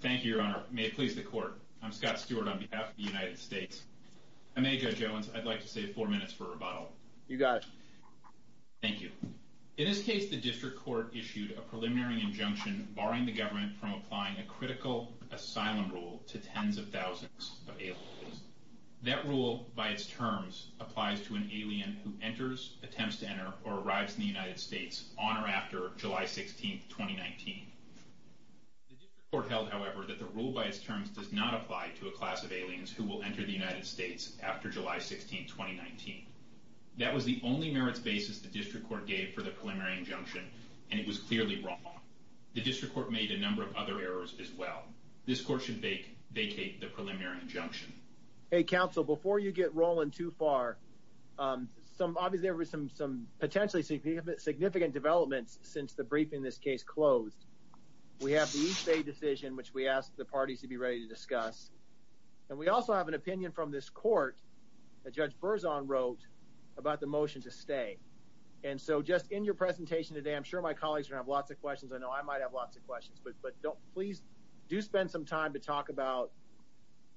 Thank you, Your Honor. May it please the Court. I'm Scott Stewart on behalf of the United States. I'm a Judge Owens. I'd like to save four minutes for rebuttal. You got it. Thank you. In this case, the District Court issued a preliminary injunction barring the government from applying a critical asylum rule to tens of thousands of aliens. That rule, by its terms, applies to an alien who enters, attempts to enter, or arrives in the United States on or after July 16, 2019. The District Court held, however, that the rule, by its terms, does not apply to a class of aliens who will enter the United States after July 16, 2019. That was the only merits basis the District Court gave for the preliminary injunction, and it was clearly wrong. The District Court made a number of other errors as well. This Court should vacate the preliminary injunction. Hey, Counsel, before you get rolling too far, there were some potentially significant developments since the briefing this case closed. We have the East Bay decision, which we asked the parties to be ready to discuss, and we also have an opinion from this Court that Judge Berzon wrote about the motion to stay. And so just in your presentation today, I'm sure my colleagues are gonna have lots of questions. I know I might have lots of questions, but don't please do spend some time to talk about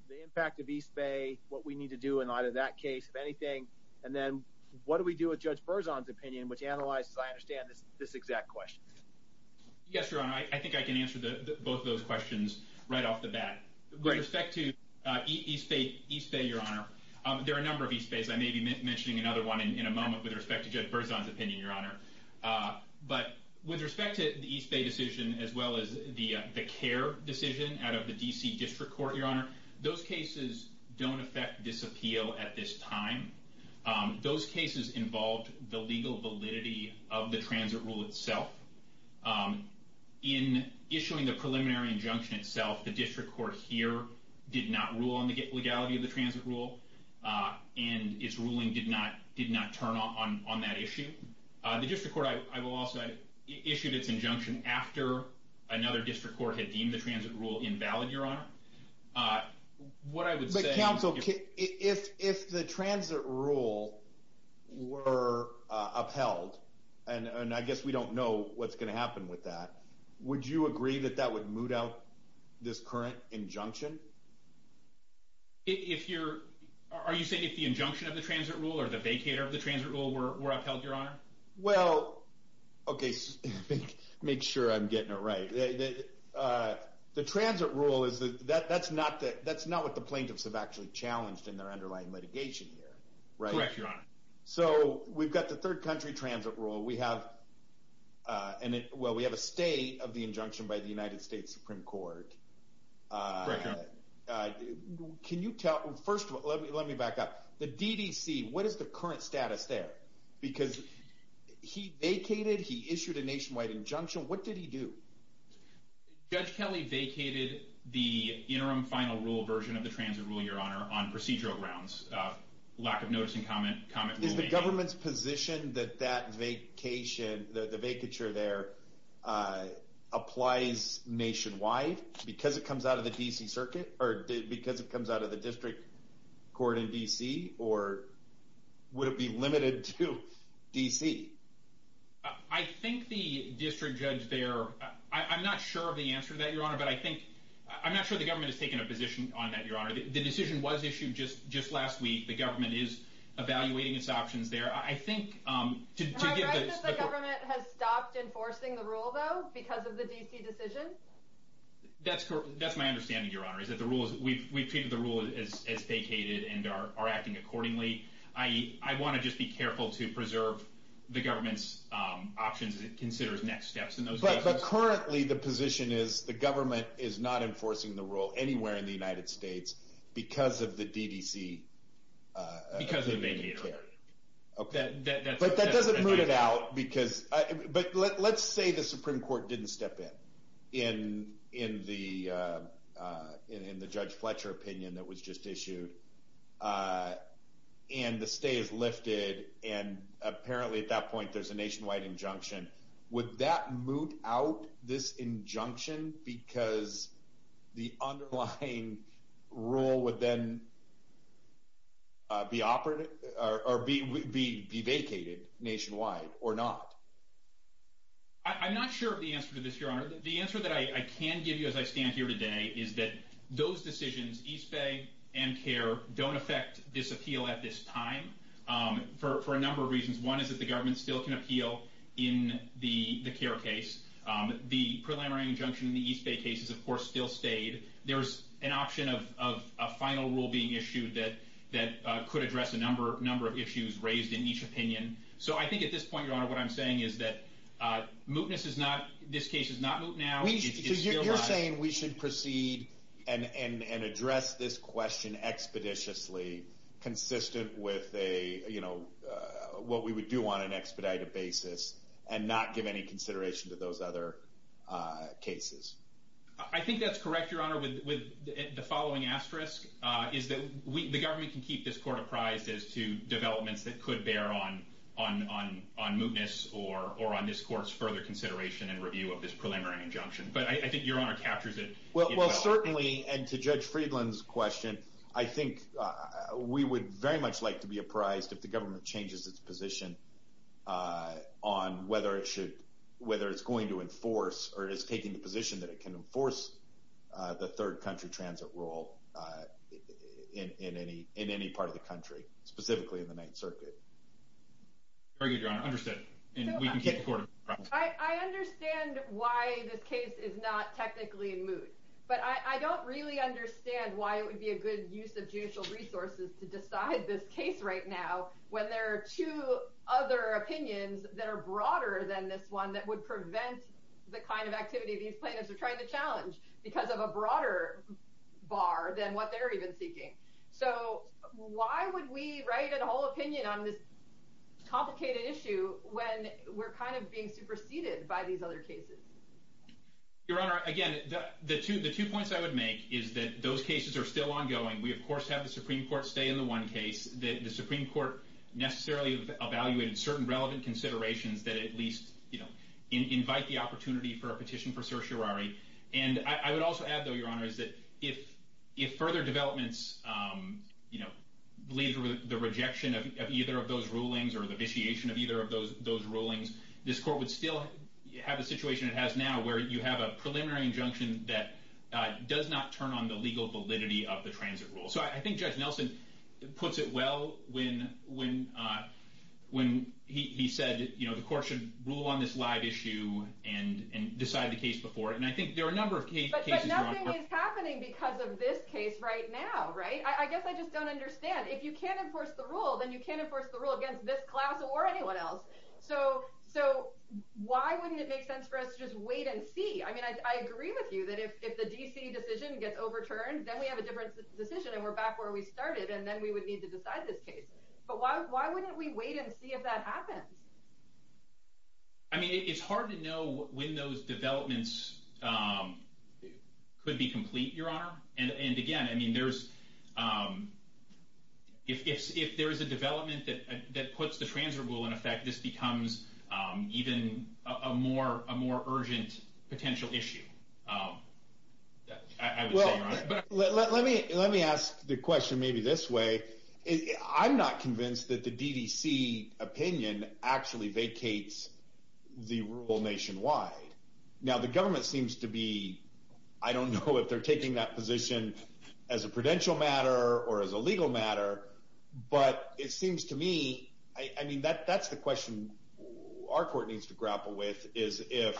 the impact of East Bay, what we need to do in light of that case, if anything, and then what do we do with Judge Berzon's opinion, which analyzes, I understand, this exact question. Yes, Your Honor, I think I can answer both those questions right off the bat. With respect to East Bay, Your Honor, there are a number of East Bays. I may be mentioning another one in a moment with respect to Judge Berzon's opinion, Your Honor. But with respect to the East Bay decision, as well as the care decision out of the D.C. District Court, Your Honor, those cases don't affect this appeal at this time. Those cases involved the legal validity of the transit rule itself. In issuing the preliminary injunction itself, the District Court here did not rule on the legality of the transit rule, and its ruling did not turn on that issue. The District Court, I will also add, issued its injunction after another District Court had deemed the transit rule invalid, Your Honor. What I would say... If the transit rule were upheld, and I guess we don't know what's going to happen with that, would you agree that that would moot out this current injunction? If you're...are you saying if the injunction of the transit rule, or the vacator of the transit rule, were upheld, Your Honor? Well, okay, make sure I'm getting it right. The transit rule is...that's not what the plaintiffs have actually challenged in their underlying litigation here, right? Correct, Your Honor. So, we've got the third country transit rule. We have...well, we have a stay of the injunction by the United States Supreme Court. Correct, Your Honor. Can you tell...first of all, let me back up. The D.D.C., what is the current status there? Because he vacated, he issued a nationwide injunction. What did he do? Judge Kelly vacated the interim final rule version of the transit rule, Your Honor, on procedural grounds. Lack of notice and comment, comment will remain. Is the government's position that that vacation, the vacature there, applies nationwide because it comes out of the D.C. Circuit, or because it comes out of the district court in D.C.? Or would it be limited to D.C.? I think the district judge there...I'm not sure of the answer to that, Your Honor, but I think...I'm not sure the government has taken a position on that, Your Honor. The decision was issued just last week. The government is evaluating its options there. I think... How correct is it that the government has stopped enforcing the rule, though, because of the D.C. decision? That's my understanding, Your Honor, is that the rule is...we've treated the rule as vacated and are acting accordingly. I want to just be careful to preserve the options that it considers next steps in those cases. But currently the position is the government is not enforcing the rule anywhere in the United States because of the D.D.C. vacatory. But that doesn't root it out because...but let's say the Supreme Court didn't step in, in the Judge Fletcher opinion that was just issued, and the stay is lifted, and apparently at that point there's a nationwide injunction. Would that root out this injunction because the underlying rule would then be operative...or be vacated nationwide or not? I'm not sure of the answer to this, Your Honor. The answer that I can give you as I stand here today is that those decisions, East Bay and CARE, don't affect this appeal at this time for a number of reasons. One is that the government still can appeal in the CARE case. The preliminary injunction in the East Bay case is of course still stayed. There's an option of a final rule being issued that could address a number of issues raised in each opinion. So I think at this point, Your Honor, what I'm saying is that mootness is not...this case is not moot now. You're saying we should proceed and address this question expeditiously, consistent with what we would do on an expedited basis, and not give any consideration to those other cases. I think that's correct, Your Honor, with the following asterisk, is that the government can keep this court apprised as to developments that could bear on mootness or on this court's further consideration and review of this preliminary injunction. But I think Your Honor captures it. Well certainly, and to Judge Friedland's question, I think we would very much like to be apprised if the government changes its position on whether it's going to enforce, or is taking the position that it can enforce, the third country transit rule in any part of the country, specifically in the Ninth Circuit. Very good, Your Honor. Understood. I understand why this case is not technically in moot, but I don't really understand why it would be a good use of this case right now when there are two other opinions that are broader than this one that would prevent the kind of activity these plaintiffs are trying to challenge, because of a broader bar than what they're even seeking. So why would we write a whole opinion on this complicated issue when we're kind of being superseded by these other cases? Your Honor, again, the two points I would make is that those cases are still ongoing. We of course have the Supreme Court, in one case, the Supreme Court necessarily evaluated certain relevant considerations that at least invite the opportunity for a petition for certiorari. And I would also add though, Your Honor, is that if further developments lead to the rejection of either of those rulings, or the vitiation of either of those rulings, this court would still have a situation it has now where you have a preliminary injunction that does not turn on the legal validity of the transit rule. So I think Judge Nelson puts it well when he said, you know, the court should rule on this live issue, and decide the case before it. And I think there are a number of cases... But nothing is happening because of this case right now, right? I guess I just don't understand. If you can't enforce the rule, then you can't enforce the rule against this class or anyone else. So why wouldn't it make sense for us to just overturn? Then we have a different decision, and we're back where we started, and then we would need to decide this case. But why wouldn't we wait and see if that happens? I mean, it's hard to know when those developments could be complete, Your Honor. And again, I mean, if there is a development that puts the transit rule in effect, this becomes even a more difficult case. Let me ask the question maybe this way. I'm not convinced that the DDC opinion actually vacates the rule nationwide. Now, the government seems to be... I don't know if they're taking that position as a prudential matter or as a legal matter, but it seems to me... I mean, that's the question our court needs to grapple with, is if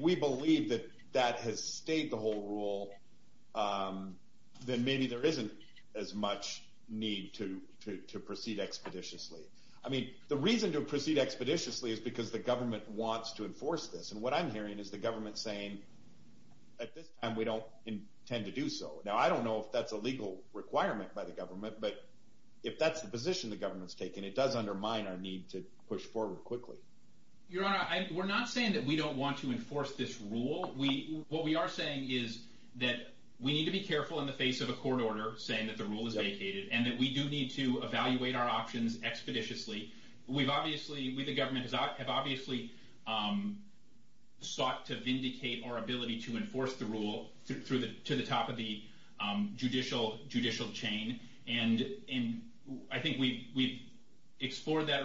we believe that that has stayed the whole rule, then maybe there isn't as much need to proceed expeditiously. I mean, the reason to proceed expeditiously is because the government wants to enforce this. And what I'm hearing is the government saying, at this time, we don't intend to do so. Now, I don't know if that's a legal requirement by the government, but if that's the position the government's taking, it does undermine our need to move forward quickly. Your Honor, we're not saying that we don't want to enforce this rule. What we are saying is that we need to be careful in the face of a court order saying that the rule is vacated, and that we do need to evaluate our options expeditiously. We, the government, have obviously sought to vindicate our ability to enforce the rule to the top of the judicial chain, and I think we've explored that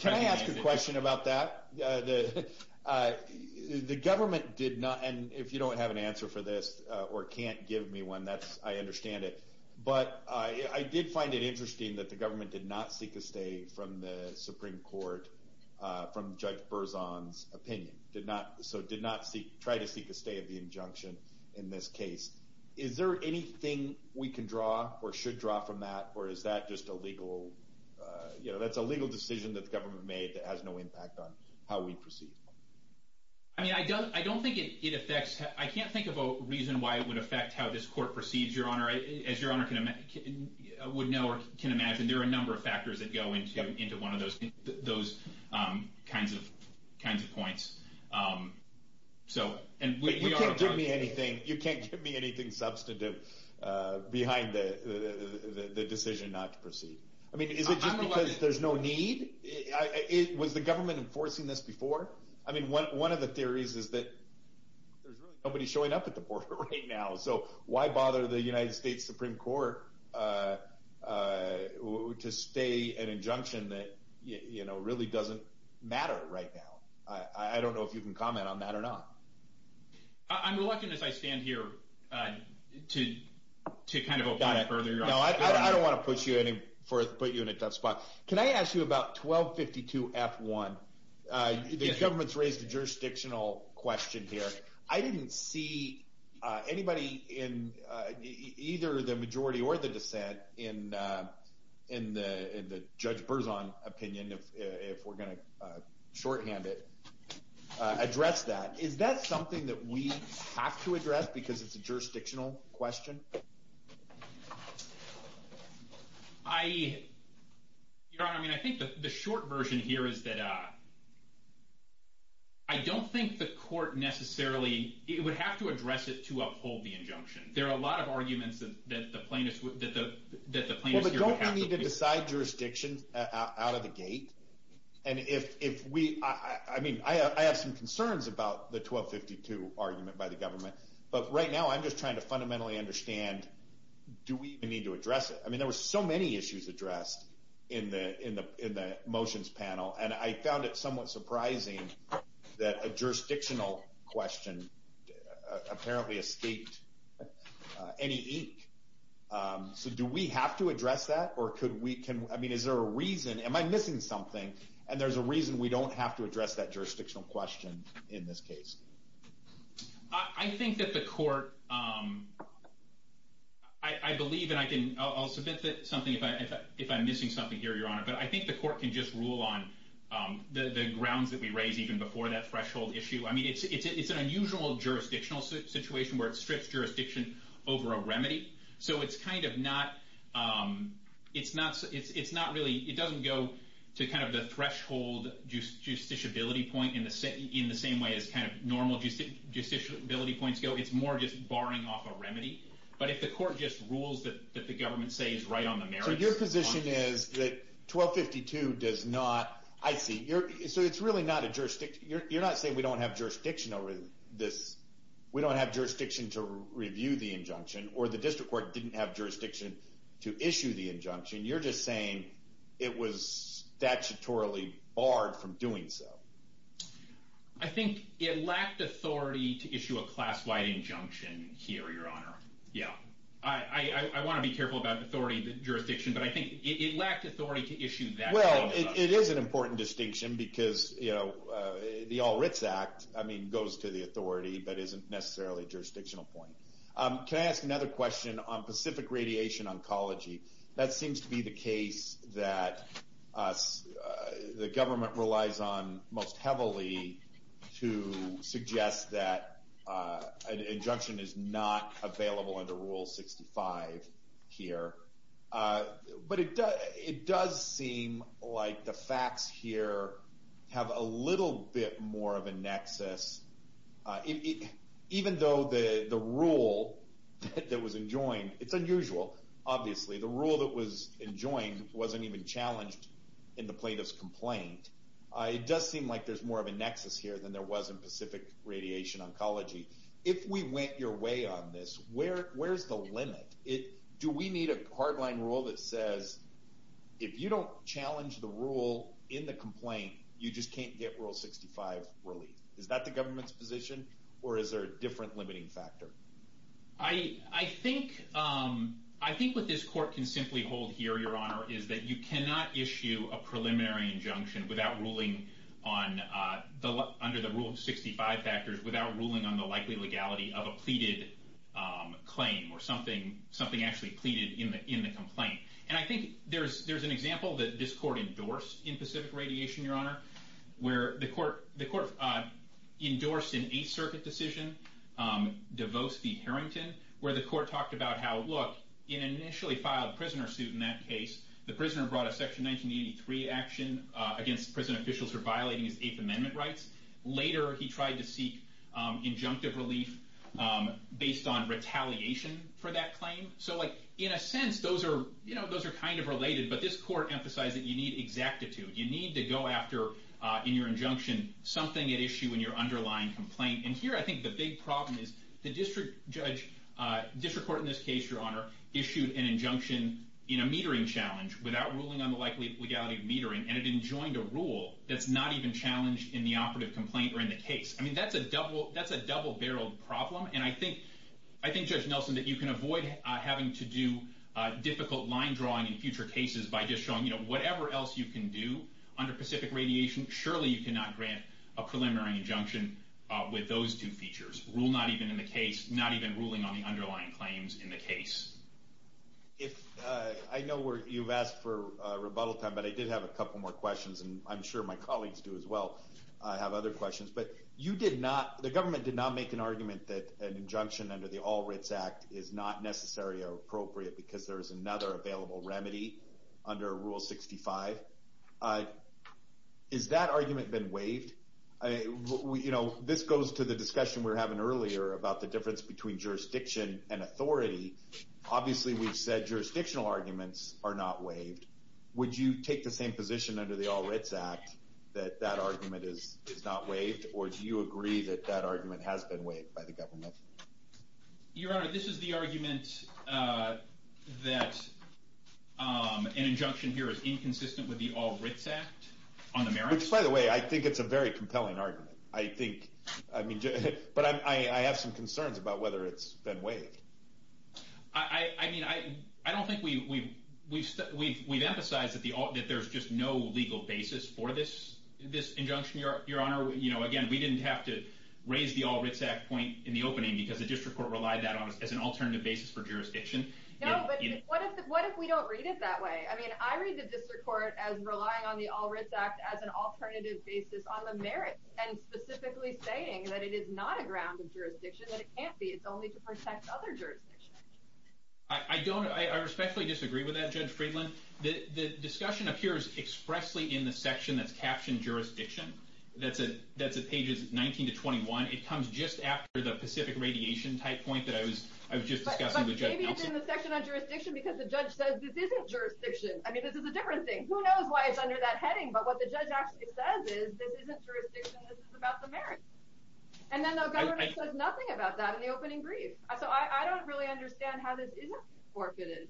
Can I ask a question about that? The government did not, and if you don't have an answer for this, or can't give me one, I understand it, but I did find it interesting that the government did not seek a stay from the Supreme Court, from Judge Berzon's opinion. So did not try to seek a stay of the injunction in this case. Is there anything we can draw, or should we draw from that, or is that just a legal decision that the government made that has no impact on how we proceed? I mean, I don't think it affects, I can't think of a reason why it would affect how this court proceeds, Your Honor. As Your Honor would know, or can imagine, there are a number of factors that go into one of those kinds of points, so, and we can't give me anything, you can't give me anything substantive behind the decision not to proceed. I mean, is it just because there's no need? Was the government enforcing this before? I mean, one of the theories is that there's really nobody showing up at the border right now, so why bother the United States Supreme Court to stay an injunction that, you know, really doesn't matter right now. I don't know if you can comment on that or not. I'm reluctant as I stand here to kind of open it further, Your Honor. No, I don't want to put you in a tough spot. Can I ask you about 1252 F1? The government's raised a jurisdictional question here. I didn't see anybody in either the majority or the dissent in the Judge Berzon opinion, if we're going to shorthand it, address that. Is that something that we have to address because it's a jurisdictional question? I, Your Honor, I mean, I think the short version here is that I don't think the court necessarily, it would have to address it to uphold the injunction. There are a lot of arguments that the plaintiffs, that the plaintiffs here don't need to decide jurisdiction out of the gate. And if we, I mean, I have some concerns about the 1252 argument by the government, but right now I'm just trying to fundamentally understand, do we need to address it? I mean, there were so many issues addressed in the motions panel, and I found it somewhat surprising that a jurisdictional question apparently escaped any ink. So do we have to address that? Or could we, I mean, is there a reason, am I missing something? And there's a reason we don't have to address that jurisdictional question in this case. I think that the court, I believe, and I'll submit something if I'm missing something here, Your Honor, but I think the court can just rule on the grounds that we raise even before that threshold issue. I mean, it's an unusual jurisdictional situation where it's strict jurisdiction over a remedy. So it's kind of not, it's not really, it doesn't go to kind of the threshold justiciability point in the same way as kind of normal justiciability points go. It's more just barring off a remedy. But if the court just rules that the government says right on the merits. So your position is that 1252 does not, I see, so it's really not a jurisdiction, you're not saying we don't have jurisdiction over this. We don't have jurisdiction to review the injunction, or the district court didn't have jurisdiction to issue the injunction. You're just saying it was statutorily barred from doing so. I think it lacked authority to issue a class-wide injunction here, Your Honor. Yeah. I want to be careful about authority, jurisdiction, but I think it lacked authority to issue that. Well, it is an the All Writs Act, I mean, goes to the authority, but isn't necessarily a jurisdictional point. Can I ask another question on Pacific Radiation Oncology? That seems to be the case that the government relies on most heavily to suggest that an injunction is not available under Rule 65 here. But it does seem like the facts here have a little bit more of a nexus. Even though the rule that was enjoined, it's unusual, obviously, the rule that was enjoined wasn't even challenged in the plaintiff's complaint. It does seem like there's more of a nexus here than there was in Pacific Radiation Oncology. If we went your way on this, where's the limit? Do we need a hardline rule that says, if you don't challenge the rule in the complaint, you just can't get Rule 65 released? Is that the government's position, or is there a different limiting factor? I think what this court can simply hold here, Your Honor, is that you cannot issue a preliminary injunction without ruling on, under the Rule 65 factors, without ruling on the likely legality of a pleaded claim or something actually pleaded in the complaint. And I think there's an example that this court endorsed in Pacific Radiation, Your Honor, where the court endorsed an Eighth Circuit decision, DeVos v. Harrington, where the court talked about how, look, in an initially filed prisoner suit in that case, the prisoner brought a Section 1983 action against prison officials for violating his Eighth Amendment rights. Later, he tried to seek injunctive relief based on retaliation for that claim. So in a sense, those are kind of related, but this court emphasized that you need exactitude. You need to go after, in your injunction, something at issue in your underlying complaint. And here, I think the big problem is the district court in this case, Your Honor, issued an injunction in a metering challenge without ruling on the likely legality of metering, and it enjoined a rule that's not even in the Eighth Circuit complaint or in the case. I mean, that's a double-barreled problem, and I think, Judge Nelson, that you can avoid having to do difficult line drawing in future cases by just showing, you know, whatever else you can do under Pacific Radiation, surely you cannot grant a preliminary injunction with those two features. Rule not even in the case, not even ruling on the underlying claims in the case. I know you've asked for rebuttal time, but I did have a couple more questions, and I'm sure my colleagues do as well have other questions. But you did not, the government did not make an argument that an injunction under the All Writs Act is not necessary or appropriate because there is another available remedy under Rule 65. Is that argument been waived? You know, this goes to the discussion we were having earlier about the difference between jurisdiction and authority. Obviously, we've said jurisdictional arguments are not waived. Would you take the same position under the All Writs Act that that argument is not waived, or do you agree that that argument has been waived by the government? Your Honor, this is the argument that an injunction here is inconsistent with the All Writs Act on the merits? Which, by the way, I think it's a very compelling argument. I think, I mean, but I have some concerns about whether it's been waived. I mean, I don't think we've emphasized that there's just no legal basis for this injunction, Your Honor. You know, again, we didn't have to raise the All Writs Act point in the opening because the district court relied that on us as an alternative basis for jurisdiction. No, but what if we don't read it that way? I mean, I read the district court as relying on the All Writs Act as an alternative basis on the merits, and specifically saying that it is not a ground of jurisdiction, that it can't be. It's only to protect other jurisdictions. I don't, I especially disagree with that, Judge Friedland. The discussion appears expressly in the section that's captioned jurisdiction. That's at pages 19 to 21. It comes just after the Pacific Radiation type point that I was just discussing with Judge Nelson. But maybe it's in the section on jurisdiction because the judge says this isn't jurisdiction. I mean, this is a different thing. Who knows why it's under that heading, but what the judge actually says is, this isn't jurisdiction, this is about the merits. And then the government says nothing about that in the opening brief. So I don't really understand how this isn't forfeited.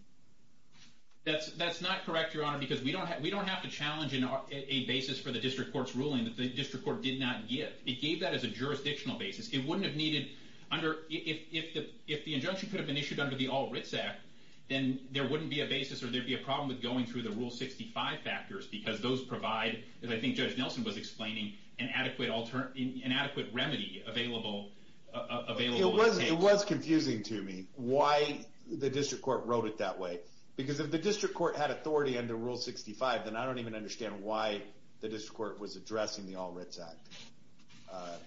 That's not correct, Your Honor, because we don't have to challenge a basis for the district court's ruling that the district court did not give. It gave that as a jurisdictional basis. It wouldn't have needed under, if the injunction could have been issued under the All Writs Act, then there wouldn't be a basis or there'd be a problem with going through the Rule 65 factors, because those provide, as I think Judge Nelson was explaining, an adequate remedy available. It was confusing to me why the district court wrote it that way. Because if the district court had authority under Rule 65, then I don't even understand why the district court was addressing the All Writs Act.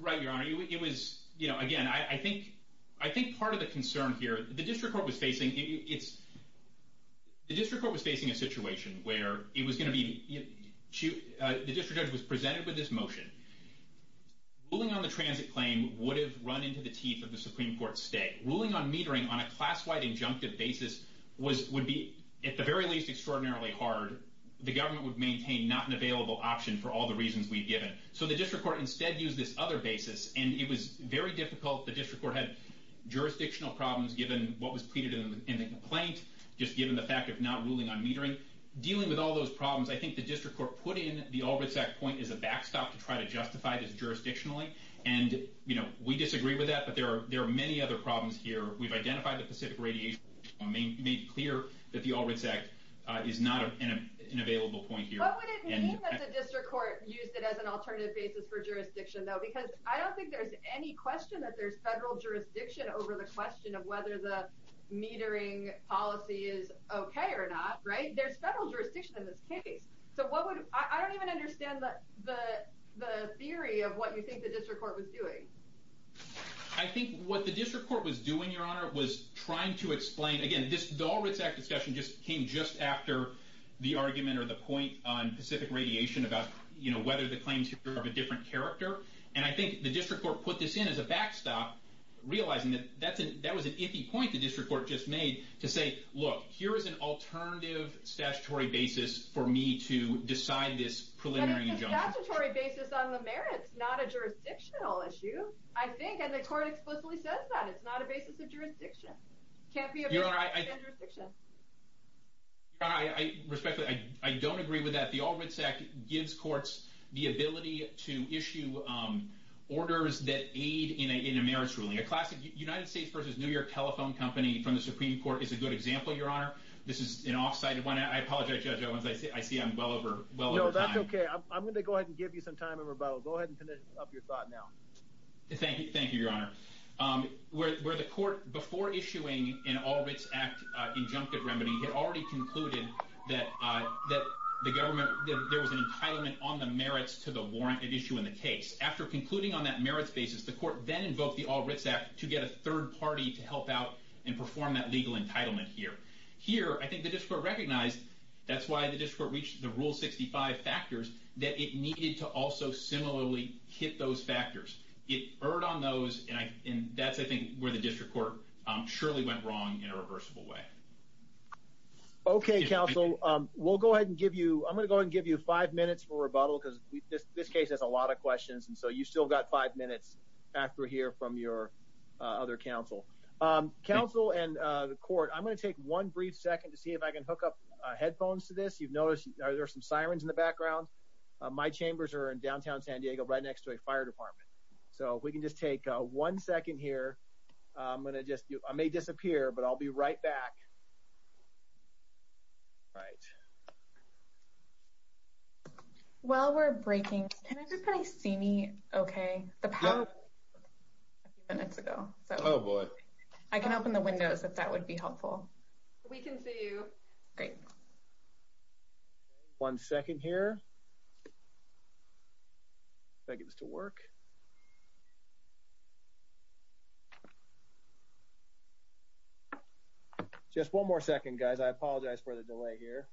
Right, Your Honor. It was, again, I think part of the concern here, the district court was facing a situation where the district judge was saying that a transit claim would have run into the teeth of the Supreme Court's stay. Ruling on metering on a class-wide injunctive basis would be, at the very least, extraordinarily hard. The government would maintain not an available option for all the reasons we've given. So the district court instead used this other basis, and it was very difficult. The district court had jurisdictional problems given what was pleaded in the complaint, just given the fact of not ruling on metering. Dealing with all those problems, I think the district court put in the All Writs Act point as a backstop to try to we disagree with that, but there are many other problems here. We've identified the Pacific Radiation Act, made clear that the All Writs Act is not an available point here. What would it mean that the district court used it as an alternative basis for jurisdiction, though? Because I don't think there's any question that there's federal jurisdiction over the question of whether the metering policy is okay or not, right? There's federal jurisdiction in this case. I don't even understand the theory of what you think the district court was doing. I think what the district court was doing, Your Honor, was trying to explain... Again, this All Writs Act discussion just came just after the argument or the point on Pacific Radiation about whether the claims here are of a different character. And I think the district court put this in as a backstop, realizing that that was an iffy point the district court just made, to say, look, here is an alternative statutory basis for me to decide this preliminary injunction. But it's a jurisdictional issue, I think. And the court explicitly says that. It's not a basis of jurisdiction. It can't be a basis of jurisdiction. Your Honor, respectfully, I don't agree with that. The All Writs Act gives courts the ability to issue orders that aid in a merits ruling. A classic United States versus New York telephone company from the Supreme Court is a good example, Your Honor. This is an offside. I apologize, Judge Owens. I see I'm well over time. No, that's okay. I'm going to go ahead and give you some time in rebuttal. Go ahead and finish up your thought now. Thank you, Your Honor. Where the court, before issuing an All Writs Act injunctive remedy, had already concluded that there was an entitlement on the merits to the warranted issue in the case. After concluding on that merits basis, the court then invoked the All Writs Act to get a third party to help out and perform that legal entitlement here. Here, I think the district recognized, that's why the district court reached the Rule 65 factors, that it needed to also similarly hit those factors. It erred on those, and that's, I think, where the district court surely went wrong in a reversible way. Okay, counsel. We'll go ahead and give you, I'm going to go ahead and give you five minutes for rebuttal, because this case has a lot of questions, and so you've still got five minutes after here from your other counsel. Counsel and the court, I'm going to take one brief second to see if I can hook up headphones to this. You've noticed, there are some sirens in the chambers are in downtown San Diego, right next to a fire department. So, if we can just take one second here, I'm going to just, I may disappear, but I'll be right back. All right. While we're breaking, can everybody see me okay? The power, a few minutes ago. Oh boy. I can open the windows, if that would be helpful. We can see you. Great. Okay, one second here. If I can get this to work. Just one more second, guys. I apologize for the delay here.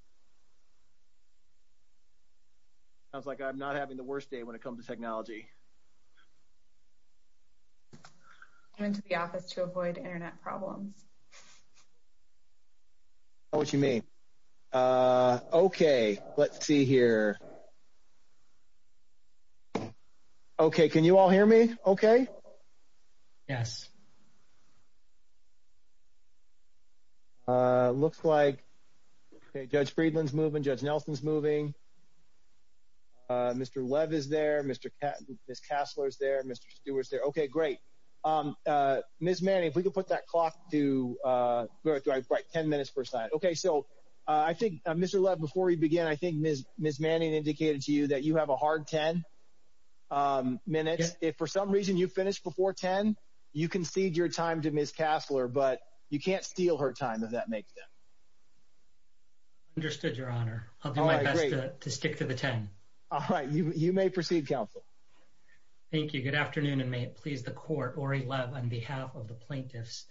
Sounds like I'm not having the worst day when it comes to technology. I went to the office to avoid internet problems. I don't know what you mean. Okay, let's see here. Okay, can you all hear me okay? Yes. Looks like Judge Friedland's moving, Judge Nelson's moving. Mr. Lev is there, Ms. Casler's there, Mr. Stewart's there. Okay, great. Ms. Manning, if we could put that clock to 10 minutes per side. Okay, so I think, Mr. Lev, before we begin, I think Ms. Manning indicated to you that you have a hard 10 minutes. If for some reason you finish before 10, you can cede your time to Ms. Casler, but you can't steal her time, if that makes sense. Understood, your honor. I'll do my best to stick to the 10. All right, you may proceed, counsel. Thank you, good afternoon, and may it please the court, Ori Lev on behalf of the plaintiffs.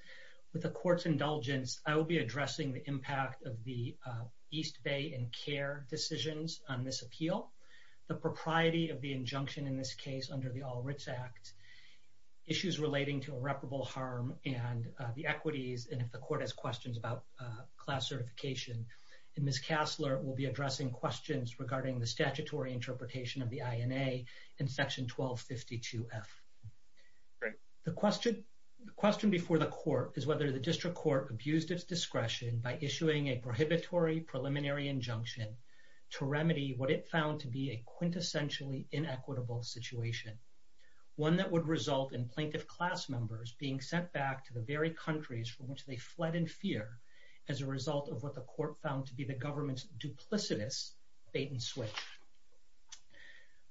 With the court's indulgence, I will be addressing the impact of the East Bay and CARE decisions on this appeal, the propriety of the injunction in this case under the All Writs Act, issues relating to irreparable harm and the equities, and if the court has questions about class certification. And Ms. Casler will be addressing questions regarding the statutory interpretation of the INA in section 1252F. The question before the court is whether the district court abused its discretion by issuing a prohibitory preliminary injunction to remedy what it found to be a quintessentially inequitable situation, one that would result in plaintiff class members being sent back to the very countries from which they fled in fear as a result of what the court found to be the government's duplicitous bait and switch.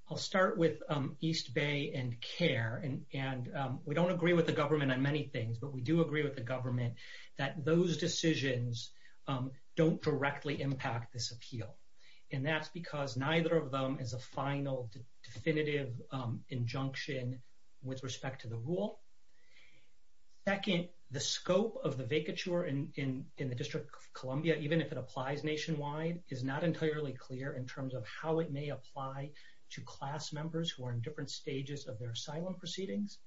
I'll start with East Bay and CARE, and we don't agree with the government on many things, but we do agree with the government that those decisions don't directly impact this appeal. And that's because neither of them is a final definitive injunction with respect to the rule. Second, the scope of the vacature in the District of Columbia, even if it applies nationwide, is not entirely clear in terms of how it may apply to class members who are in different stages of their asylum proceedings.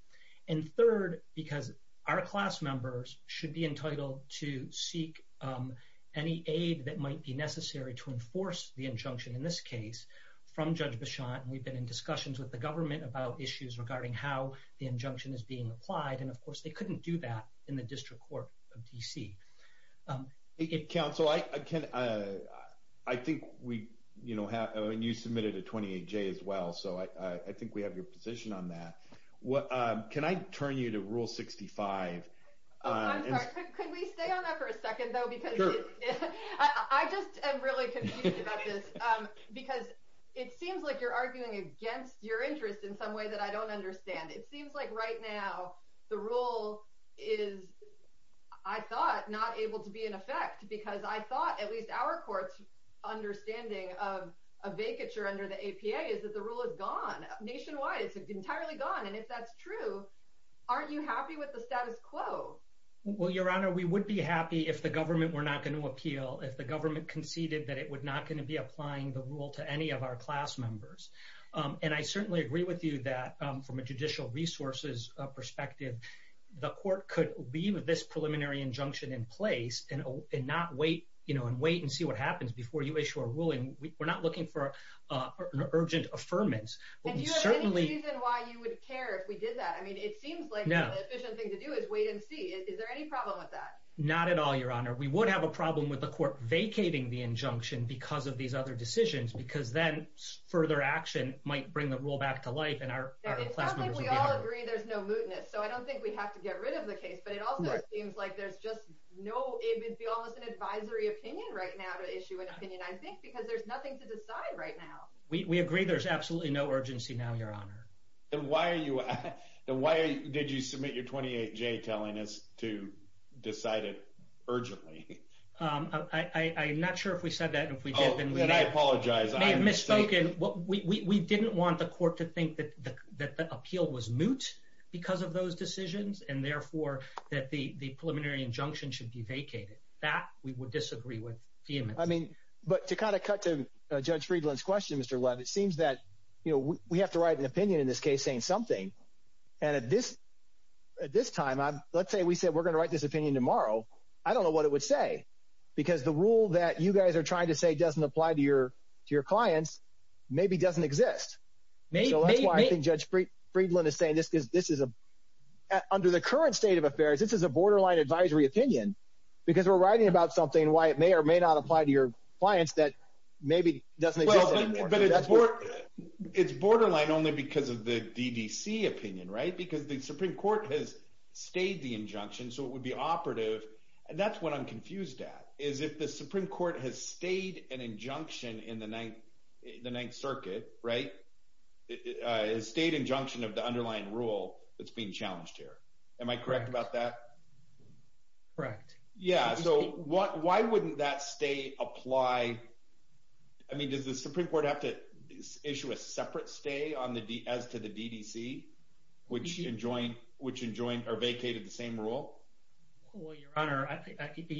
And third, because our class members should be entitled to seek any aid that might be necessary to enforce the injunction in this case from Judge Bichon. And we've been in discussions with the government about issues regarding how the injunction is being applied. And of course, they couldn't do that in the District Court of D.C. Hey, Counsel, I think we have, and you submitted a 28-J as well, so I think we have your position on that. Can I turn you to Rule 65? Oh, I'm sorry. Could we stay on that for a second, though? Because I just am really confused about this, because it seems like you're arguing against your interest in some way that I don't understand. It seems like right now the rule is, I thought, not able to be in effect, because I thought, at least our court's understanding of a vacature under the APA is that the rule is gone. Nationwide, it's entirely gone. And if that's true, aren't you happy with the status quo? Well, Your Honor, we would be happy if the government were not going to appeal, if the government conceded that it was not going to be applying the rule to any of our class members. And I certainly agree with you that, from a judicial resources perspective, the court could leave this preliminary injunction in place and not wait and see what happens before you issue a ruling. We're not looking for an urgent affirmance. And do you have any reason why you would care if we did that? I mean, it seems like the efficient thing to do is wait and see. Is there any problem with that? Not at all, Your Honor. We would have a problem with the court vacating the injunction because of these other decisions, because then further action might bring the rule back to life. And our class members would be hurt. It sounds like we all agree there's no mootness. So I don't think we have to get rid of the case. But it also seems like there's just no, it would be almost an advisory opinion right now to issue an opinion, I think, because there's nothing to decide right now. We agree there's absolutely no urgency now, Your Honor. Then why are you, then why did you submit your 28-J telling us to decide it urgently? I'm not sure if we said that and if we did. And I apologize. We may have misspoken. We didn't want the court to think that the appeal was moot because of those decisions and therefore that the preliminary injunction should be vacated. That we would disagree with vehemently. I mean, but to kind of cut to Judge Friedland's question, Mr. Webb, it seems that we have to write an opinion in this case saying something. And at this time, let's say we said we're going to write this opinion tomorrow. I don't know what it would say, because the rule that you guys are trying to say doesn't apply to your clients, maybe doesn't exist. So that's why I think Judge Friedland is saying this is a, under the current state of affairs, this is a borderline advisory opinion. Because we're writing about something why it may or may not apply to your clients that maybe doesn't exist anymore. But it's borderline only because of the DDC opinion, right? Because the Supreme Court has stayed the injunction, so it would be operative. And that's what I'm confused at, is if the Supreme Court has stayed an injunction in the Ninth Circuit, right? It stayed injunction of the underlying rule that's being challenged here. Am I correct about that? Correct. Yeah, so why wouldn't that stay apply? I mean, does the Supreme Court have to issue a separate stay as to the DDC, which enjoined or vacated the same rule? Well, Your Honor,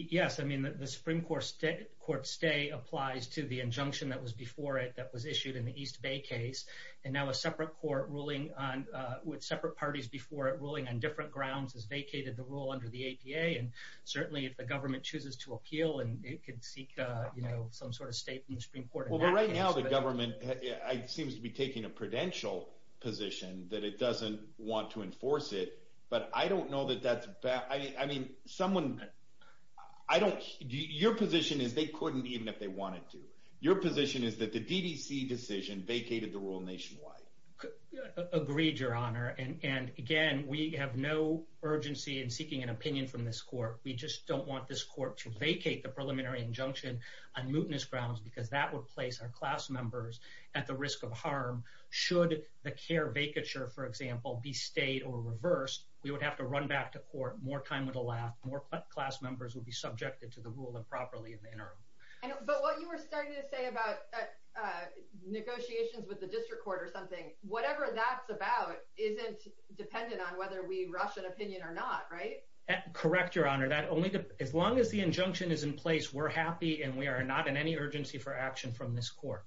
yes. I mean, the Supreme Court stay applies to the injunction that was before it, that was issued in the East Bay case. And now a separate court ruling on, with separate parties before it ruling on different grounds, has vacated the rule under the APA. And certainly if the government chooses to appeal, and it could seek some sort of state in the Supreme Court. Well, right now the government seems to be taking a prudential position that it doesn't want to enforce it. But I don't know that that's bad. I mean, someone, I don't, your position is they couldn't even if they wanted to. Your position is that the DDC decision vacated the rule nationwide. Agreed, Your Honor. And again, we have no urgency in seeking an opinion from this court. We just don't want this court to vacate the preliminary injunction on mootness grounds, because that would place our class members at the risk of harm. Should the care vacature, for example, be stayed or reversed, we would have to run back to court. More time would allow more class members would be subjected to the rule improperly in the interim. I know, but what you were starting to say about negotiations with the district court or something, whatever that's about isn't dependent on whether we rush an opinion or not, right? Correct, Your Honor. That only, as long as the injunction is in place, we're happy and we are not in any urgency for action from this court.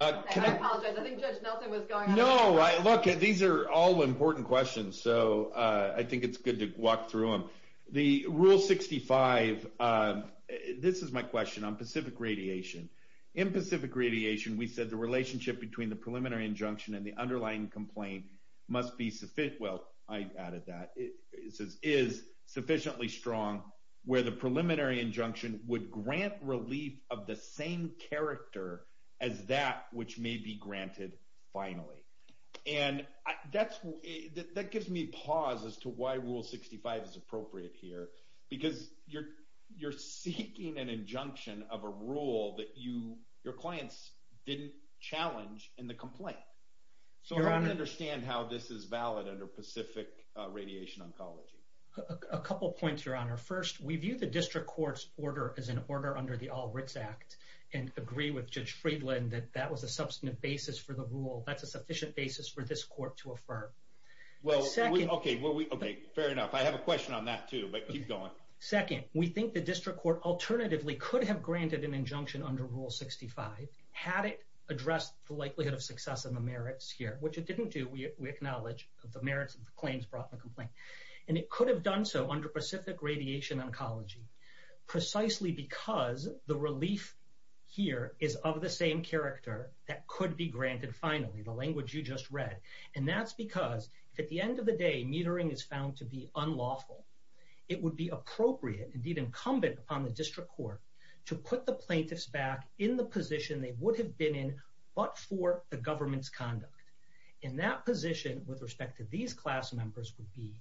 I apologize, I think Judge Nelson was going on. No, look, these are all important questions, so I think it's good to walk through them. The Rule 65, this is my question on Pacific Radiation. In Pacific Radiation, we said the relationship between the preliminary injunction and the underlying complaint must be sufficient, well, I added that, is sufficiently strong where the preliminary injunction would grant relief of the same character as that which may be granted finally. And that gives me pause as to why Rule 65 is appropriate here, because you're seeking an injunction of a rule that your clients didn't challenge in the complaint. So I don't understand how this is valid A couple of points, Your Honor. First, we view the district court's order as an order under the All Writs Act and agree with Judge Friedland that that was a substantive basis for the rule. That's a sufficient basis for this court to affirm. Well, okay, fair enough. I have a question on that too, but keep going. Second, we think the district court alternatively could have granted an injunction under Rule 65 had it addressed the likelihood of success and the merits here, which it didn't do. We acknowledge the merits of the claims brought in the complaint. And it could have done so under Pacific Radiation Oncology, precisely because the relief here is of the same character that could be granted finally, the language you just read. And that's because if at the end of the day, metering is found to be unlawful, it would be appropriate, indeed incumbent upon the district court to put the plaintiffs back in the position they would have been in, but for the government's conduct. And that position with respect to these class members would be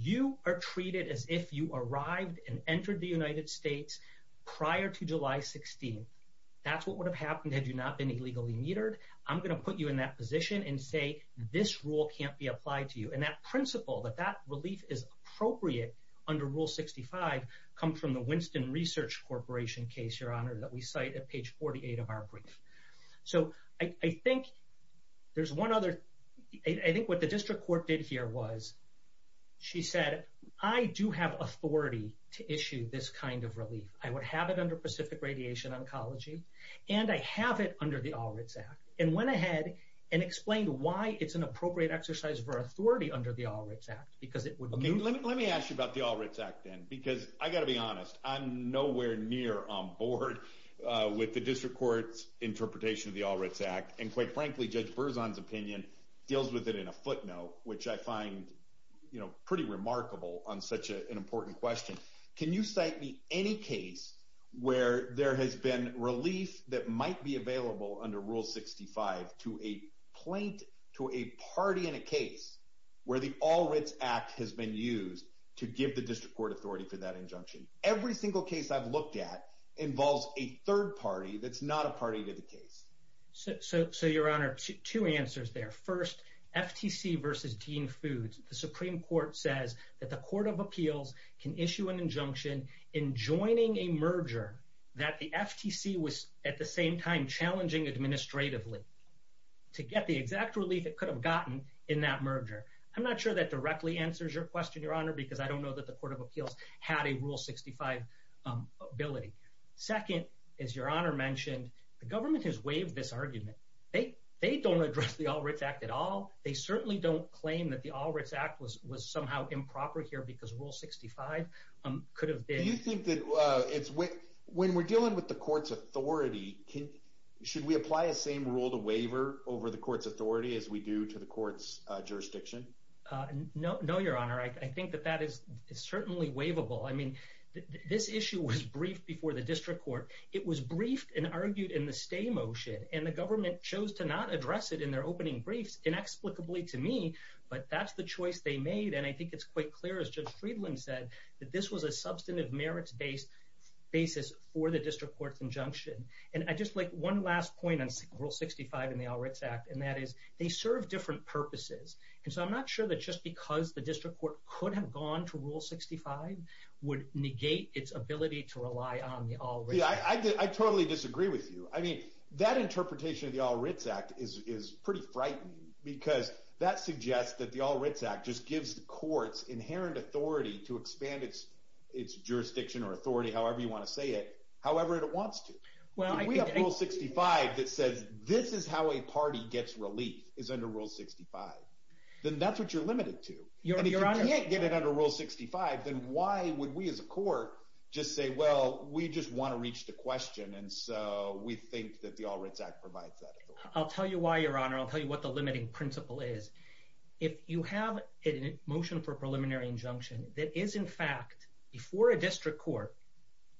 you are treated as if you arrived and entered the United States prior to July 16th. That's what would have happened had you not been illegally metered. I'm going to put you in that position and say this rule can't be applied to you. And that principle that that relief is appropriate under Rule 65 comes from the Winston Research Corporation case, Your Honor, that we cite at page 48 of our brief. So I think there's one other, I think what the district court did here was she said, I do have authority to issue this kind of relief. I would have it under Pacific Radiation Oncology and I have it under the All Writs Act and went ahead and explained why it's an appropriate exercise for authority under the All Writs Act, because it would... Okay, let me ask you about the All Writs Act then, because I got to be honest, I'm nowhere near on board with the district court's interpretation of the All Writs Act. And quite frankly, Judge Berzon's opinion deals with it in a footnote, which I find pretty remarkable on such an important question. Can you cite me any case where there has been relief that might be available under Rule 65 to a plaint, to a party in a case where the All Writs Act has been used to give the district court authority for that injunction? Every single case I've looked at involves a third party that's not a party to the case. So Your Honor, two answers there. First, FTC versus Dean Foods. The Supreme Court says that the Court of Appeals can issue an injunction in joining a merger that the FTC was at the same time challenging administratively to get the exact relief it could have gotten in that merger. I'm not sure that directly answers your question, Your Honor, because I don't know that the Court of Appeals had a Rule 65 ability. Second, as Your Honor mentioned, the government has waived this argument. They don't address the All Writs Act at all. They certainly don't claim that the All Writs Act was somehow improper here because Rule 65 could have been... Do you think that it's... When we're dealing with the court's authority, should we apply the same rule to waiver over the court's authority as we do to the court's jurisdiction? No, Your Honor. I think that that is certainly waivable. This issue was briefed before the district court. It was briefed and argued in the stay motion and the government chose to not address it in their opening briefs inexplicably to me, but that's the choice they made. I think it's quite clear, as Judge Friedland said, that this was a substantive merits-based basis for the district court's injunction. One last point on Rule 65 and the All Writs Act, and that is they serve different purposes. I'm not sure that just because the district court could have gone to Rule 65 would negate its ability to rely on the All Writs Act. I totally disagree with you. That interpretation of the All Writs Act is pretty frightening because that suggests that the All Writs Act just gives the courts inherent authority to expand its jurisdiction or authority, however you want to say it, however it wants to. If we have Rule 65 that says, this is how a party gets relief, is under Rule 65, then that's what you're limited to. If you can't get it under Rule 65, then why would we as a court just say, well, we just want to reach the question and so we think that the All Writs Act provides that authority. I'll tell you why, Your Honor. I'll tell you what the limiting principle is. If you have a motion for a preliminary injunction that is, in fact, before a district court,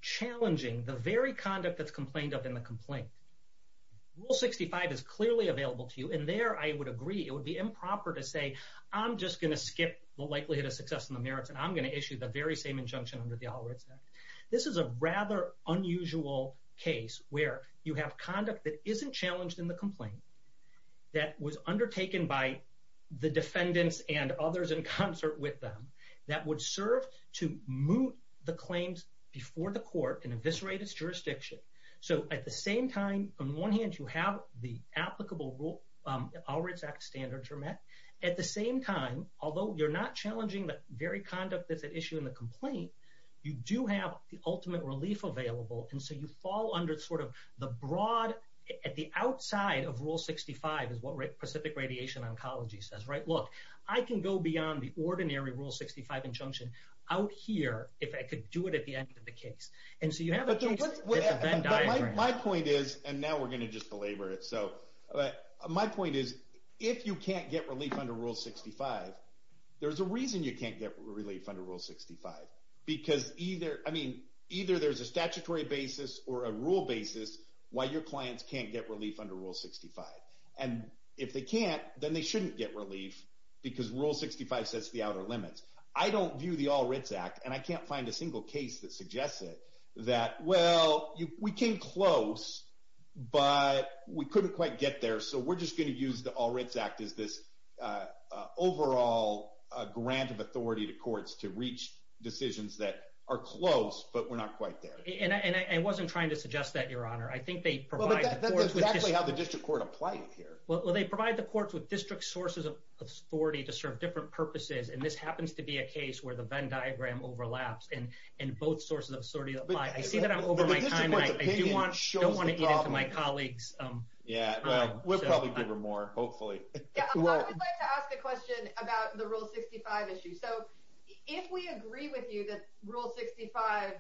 challenging the very conduct that's complained of in the complaint, Rule 65 is clearly available to you, and there I would agree it would be improper to say, I'm just going to skip the likelihood of success in the merits and I'm going to issue the very same injunction under the All Writs Act. This is a rather unusual case where you have conduct that isn't challenged in the complaint, that was undertaken by the defendants and others in concert with them, that would serve to moot the claims before the court and eviscerate its jurisdiction. So at the same time, on one hand, you have the applicable rule, All Writs Act standards are met. At the same time, although you're not challenging the very conduct that's at issue in the complaint, you do have the ultimate relief available, and so you fall under sort of the broad, at the outside of Rule 65 is what Pacific Radiation Oncology says, right, look, I can go beyond the ordinary Rule 65 injunction out here if I could do it at the end of the case. And so you have a case with that diagram. My point is, and now we're going to just belabor it, so my point is, if you can't get relief under Rule 65, there's a reason you can't get relief under Rule 65. Because either, I mean, either there's a statutory basis or a rule basis why your clients can't get relief under Rule 65. And if they can't, then they shouldn't get relief because Rule 65 sets the outer limits. I don't view the All Writs Act, and I can't find a single case that suggests it, that well, we came close, but we couldn't quite get there, so we're just going to use the All Writs Act as this overall grant of authority to courts to reach decisions that are close, but we're not quite there. And I wasn't trying to suggest that, Your Honor. I think they provide the courts with just... Well, that's exactly how the district court applies it here. Well, they provide the courts with district sources of authority to serve different purposes, and this happens to be a case where the Venn diagram overlaps and both sources of authority apply. I see that I'm over my time, and I do want to eat into my colleagues. Yeah, well, we'll probably give her more, hopefully. Yeah, I would like to ask a question about the Rule 65 issue. So if we agree with you that Rule 65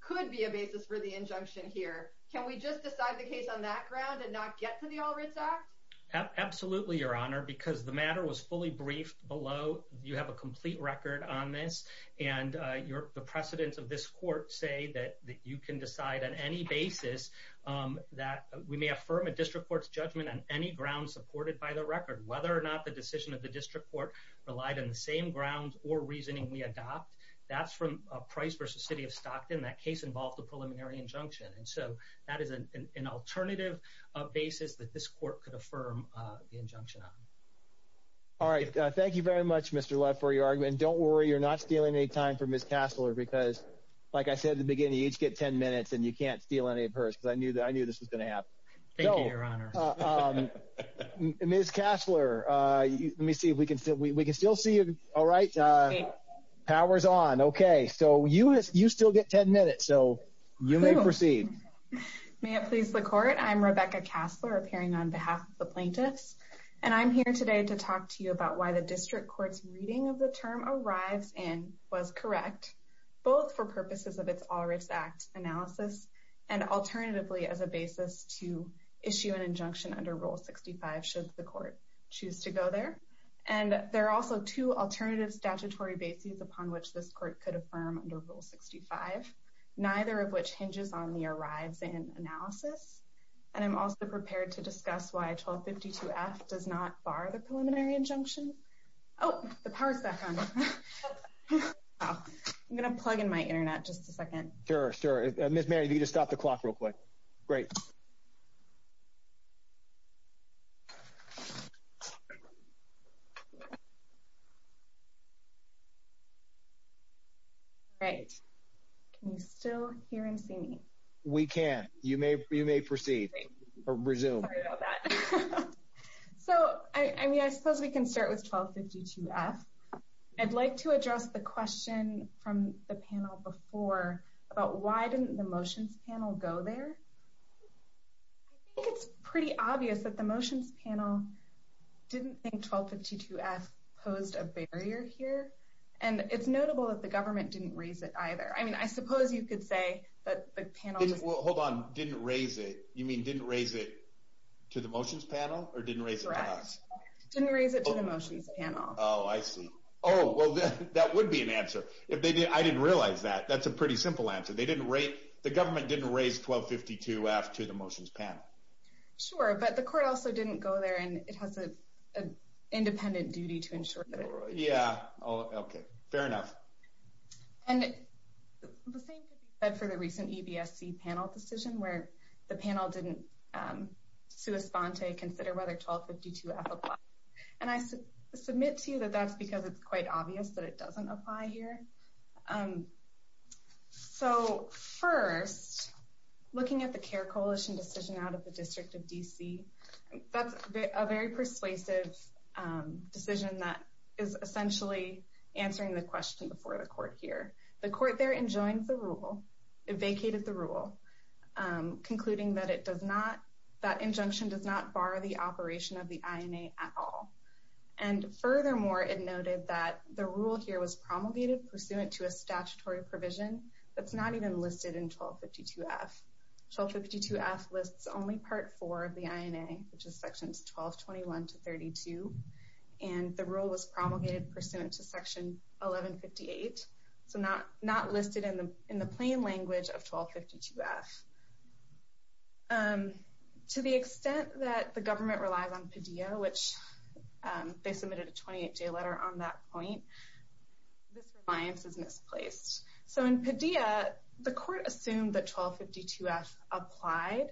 could be a basis for the injunction here, can we just decide the case on that ground and not get to the All Writs Act? Absolutely, Your Honor, because the matter was fully briefed below. You have a complete record on this, and the precedents of this court say that you can decide on any basis that we may affirm a district court's judgment on any ground supported by the record, whether or not the decision of the district court relied on the same ground or reasoning we adopt. That's from Price v. City of Stockton. That case involved a preliminary injunction, and so that is an alternative basis that this court could affirm the injunction on. All right. Thank you very much, Mr. Leff, for your argument. Don't worry, you're not stealing any time from Ms. Kastler, because like I said at the beginning, you each get 10 minutes and you can't steal any of hers, because I knew this was going to happen. Thank you, Your Honor. Ms. Kastler, let me see if we can still... We can still see you, all right. Power's on. Okay. So you still get 10 minutes, so you may proceed. May it please the court. I'm Rebecca Kastler, appearing on behalf of the plaintiffs, and I'm here today to talk to you about why the district court's reading of the term arrives in was correct, both for purposes of its All Writs Act analysis and alternatively as a basis to issue an injunction under Rule 65 should the court choose to go there. And there are also two alternative statutory bases upon which this court could affirm under Rule 65, neither of which hinges on the arrives in analysis. And I'm also prepared to discuss why 1252F does not bar the preliminary injunction. Oh, the power's back on. I'm going to plug in my internet just a second. Sure, sure. Ms. Mary, if you could just stop the clock real quick. Great. All right, can you still hear and see me? We can. You may proceed or resume. So, I mean, I suppose we can start with 1252F. I'd like to address the question from the panel before about why didn't the motions panel go there? I think it's pretty obvious that the motions panel didn't think 1252F posed a barrier here. And it's notable that the government didn't raise it either. I mean, I suppose you could say that the panel just- Well, hold on. Didn't raise it? You mean didn't raise it to the motions panel or didn't raise it to us? Didn't raise it to the motions panel. Oh, I see. Oh, well, that would be an answer. If they did, I didn't realize that. That's a pretty simple answer. They didn't raise, the government didn't raise 1252F to the motions panel. Sure, but the court also didn't go there and it has an independent duty to ensure that it- Yeah, oh, okay. Fair enough. And the same could be said for the recent EBSC panel decision where the panel didn't sui sponte consider whether 1252F applied. And I submit to you that that's because it's quite obvious that it doesn't apply here. So, first, looking at the CARE coalition decision out of the district of DC, that's a very persuasive decision that is essentially answering the question before the court here. The court there enjoined the rule, vacated the rule, concluding that it does not, that injunction does not bar the operation of the INA at all. And furthermore, it noted that the rule here was promulgated pursuant to a statutory provision that's not even listed in 1252F. 1252F lists only part four of the INA, which is sections 1221 to 32. And the rule was promulgated pursuant to section 1158. So not listed in the plain language of 1252F. To the extent that the government relies on PDEA, which they submitted a 28-day letter on that point, this reliance is misplaced. So in PDEA, the court assumed that 1252F applied,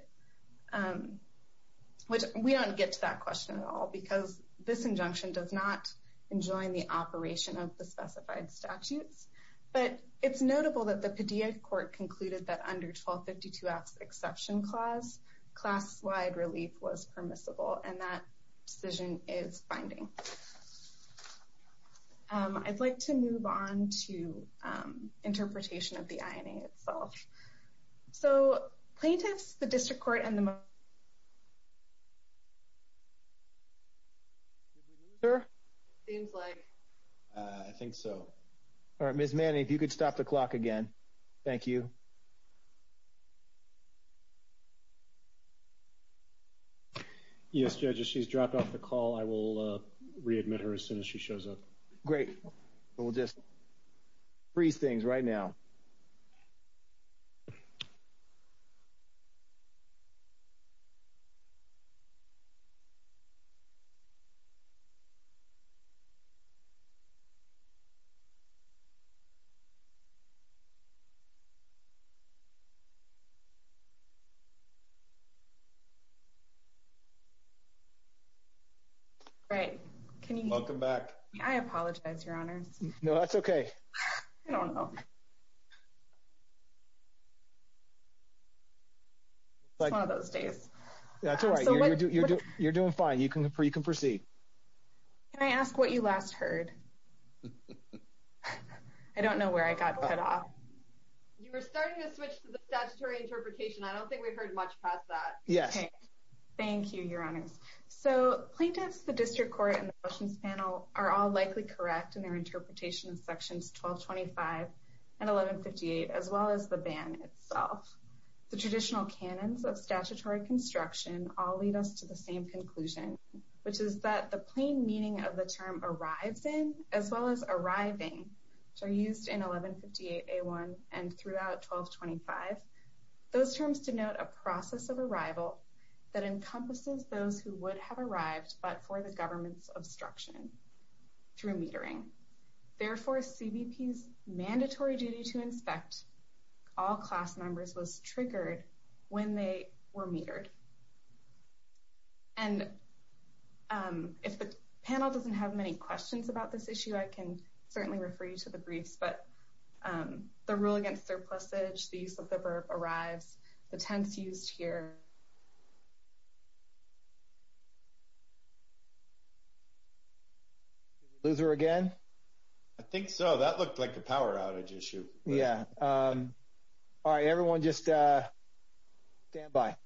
which we don't get to that question at all because this injunction does not enjoin the operation of the specified statutes. But it's notable that the PDEA court concluded that under 1252F's exception clause, class-wide relief was permissible, and that decision is binding. So I'd like to move on to interpretation of the INA itself. So plaintiffs, the district court, and the- Did we lose her? Seems like. I think so. All right, Ms. Manning, if you could stop the clock again. Thank you. Yes, judges, she's dropped off the call. I will readmit her as soon as she shows up. Great, we'll just freeze things right now. All right, can you- Welcome back. I apologize, your honors. No, that's okay. I don't know. It's one of those days. That's all right, you're doing fine. You can proceed. Can I ask what you last heard? I don't know where I got cut off. You were starting to switch to the statutory interpretation. I don't think we've heard much past that. Yes. Okay, thank you, your honors. So plaintiffs, the district court, and the motions panel are all likely correct in their interpretation of sections 1225 and 1158, as well as the ban itself. The traditional canons of statutory construction all lead us to the same conclusion, which is that the plain meaning of the term arrives in, as well as arriving, which are used in 1158A1 and throughout 1225, those terms denote a process of arrival that encompasses those who would have arrived, but for the government's obstruction through metering. Therefore, CBP's mandatory duty to inspect all class members was triggered when they were metered. And if the panel doesn't have many questions about this issue, I can certainly refer you to the briefs, but the rule against surplusage, the use of the verb arrives, the tense used here. Did we lose her again? I think so. That looked like a power outage issue. Yeah. All right, everyone just stand by.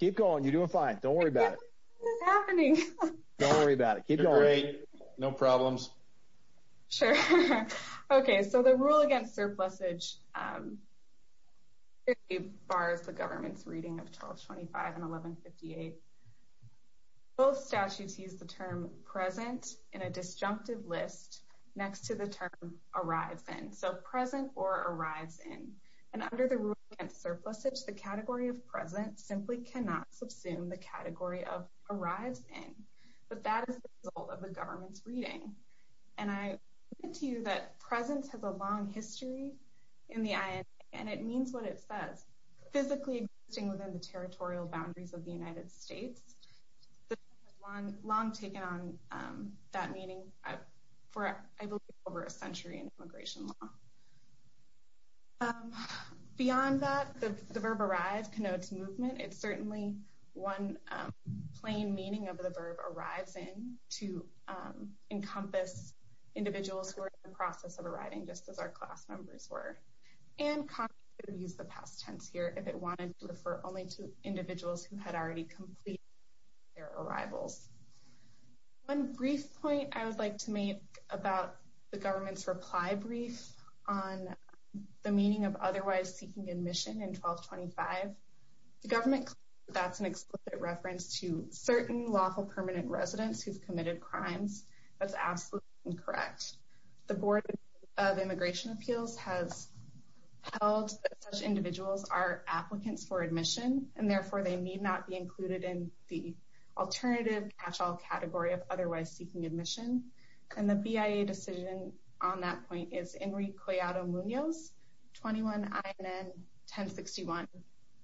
Keep going. You're doing fine. Don't worry about it. It's happening. Don't worry about it. Keep going. You're great. No problems. Sure. Okay, so the rule against surplusage basically bars the government's reading of 1225 and 1158. Both statutes use the term present in a disjunctive list next to the term arrives in. So present or arrives in. And under the rule against surplusage, the category of present simply cannot subsume the category of arrives in, but that is the result of the government's reading. And I mentioned to you that present has a long history in the INA, and it means what it says, physically existing within the territorial boundaries of the United States. The term has long taken on that meaning for, I believe, over a century in immigration law. Beyond that, the verb arrive connotes movement. It's certainly one plain meaning of the verb arrives in to encompass individuals who are in the process of arriving just as our class members were. And Congress could have used the past tense here if it wanted to refer only to individuals who had already completed their arrivals. One brief point I would like to make about the government's reply brief on the meaning of otherwise seeking admission in 1225. The government, that's an explicit reference to certain lawful permanent residents who've committed crimes. That's absolutely incorrect. The Board of Immigration Appeals has held that such individuals are applicants for admission, and therefore they need not be included in the alternative catch-all category of otherwise seeking admission. And the BIA decision on that point is Enrique Collado Munoz, 21 INN 1061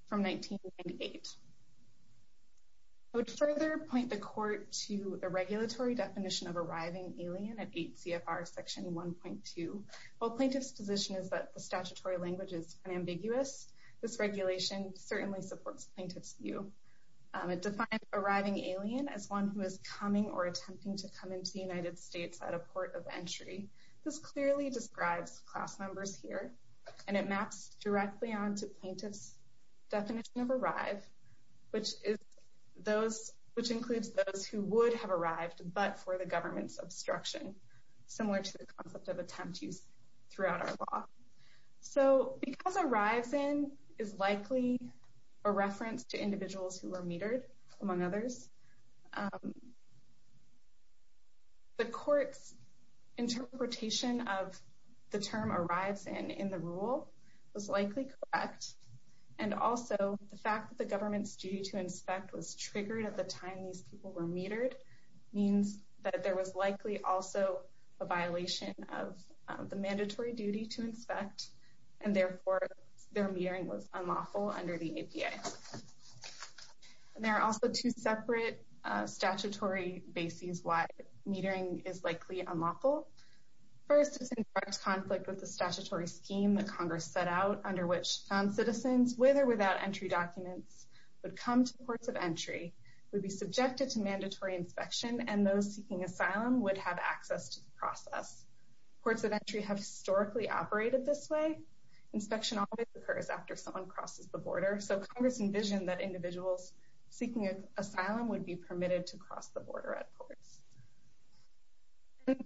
from 1998. I would further point the court to the regulatory definition of arriving alien at 8 CFR section 1.2. While plaintiff's position is that the statutory language is unambiguous, this regulation certainly supports plaintiff's view. It defines arriving alien as one who is coming or attempting to come into the United States at a port of entry. This clearly describes class members here, and it maps directly onto plaintiff's definition of arrive, which includes those who would have arrived, but for the government's obstruction, similar to the concept of attempt use throughout our law. So because arrives in is likely a reference to individuals who are metered, among others, the court's interpretation of the term arrives in in the rule was likely correct. And also the fact that the government's duty to inspect was triggered at the time these people were metered means that there was likely also a violation of the mandatory duty to inspect, and therefore their metering was unlawful under the APA. And there are also two separate statutory bases why metering is likely unlawful. First, it's in direct conflict with the statutory scheme that Congress set out under which found citizens with or without entry documents would come to ports of entry, would be subjected to mandatory inspection, and those seeking asylum would have access to the process. Ports of entry have historically operated this way. Inspection always occurs after someone crosses the border. So Congress envisioned that individuals seeking asylum would be permitted to cross the border at ports.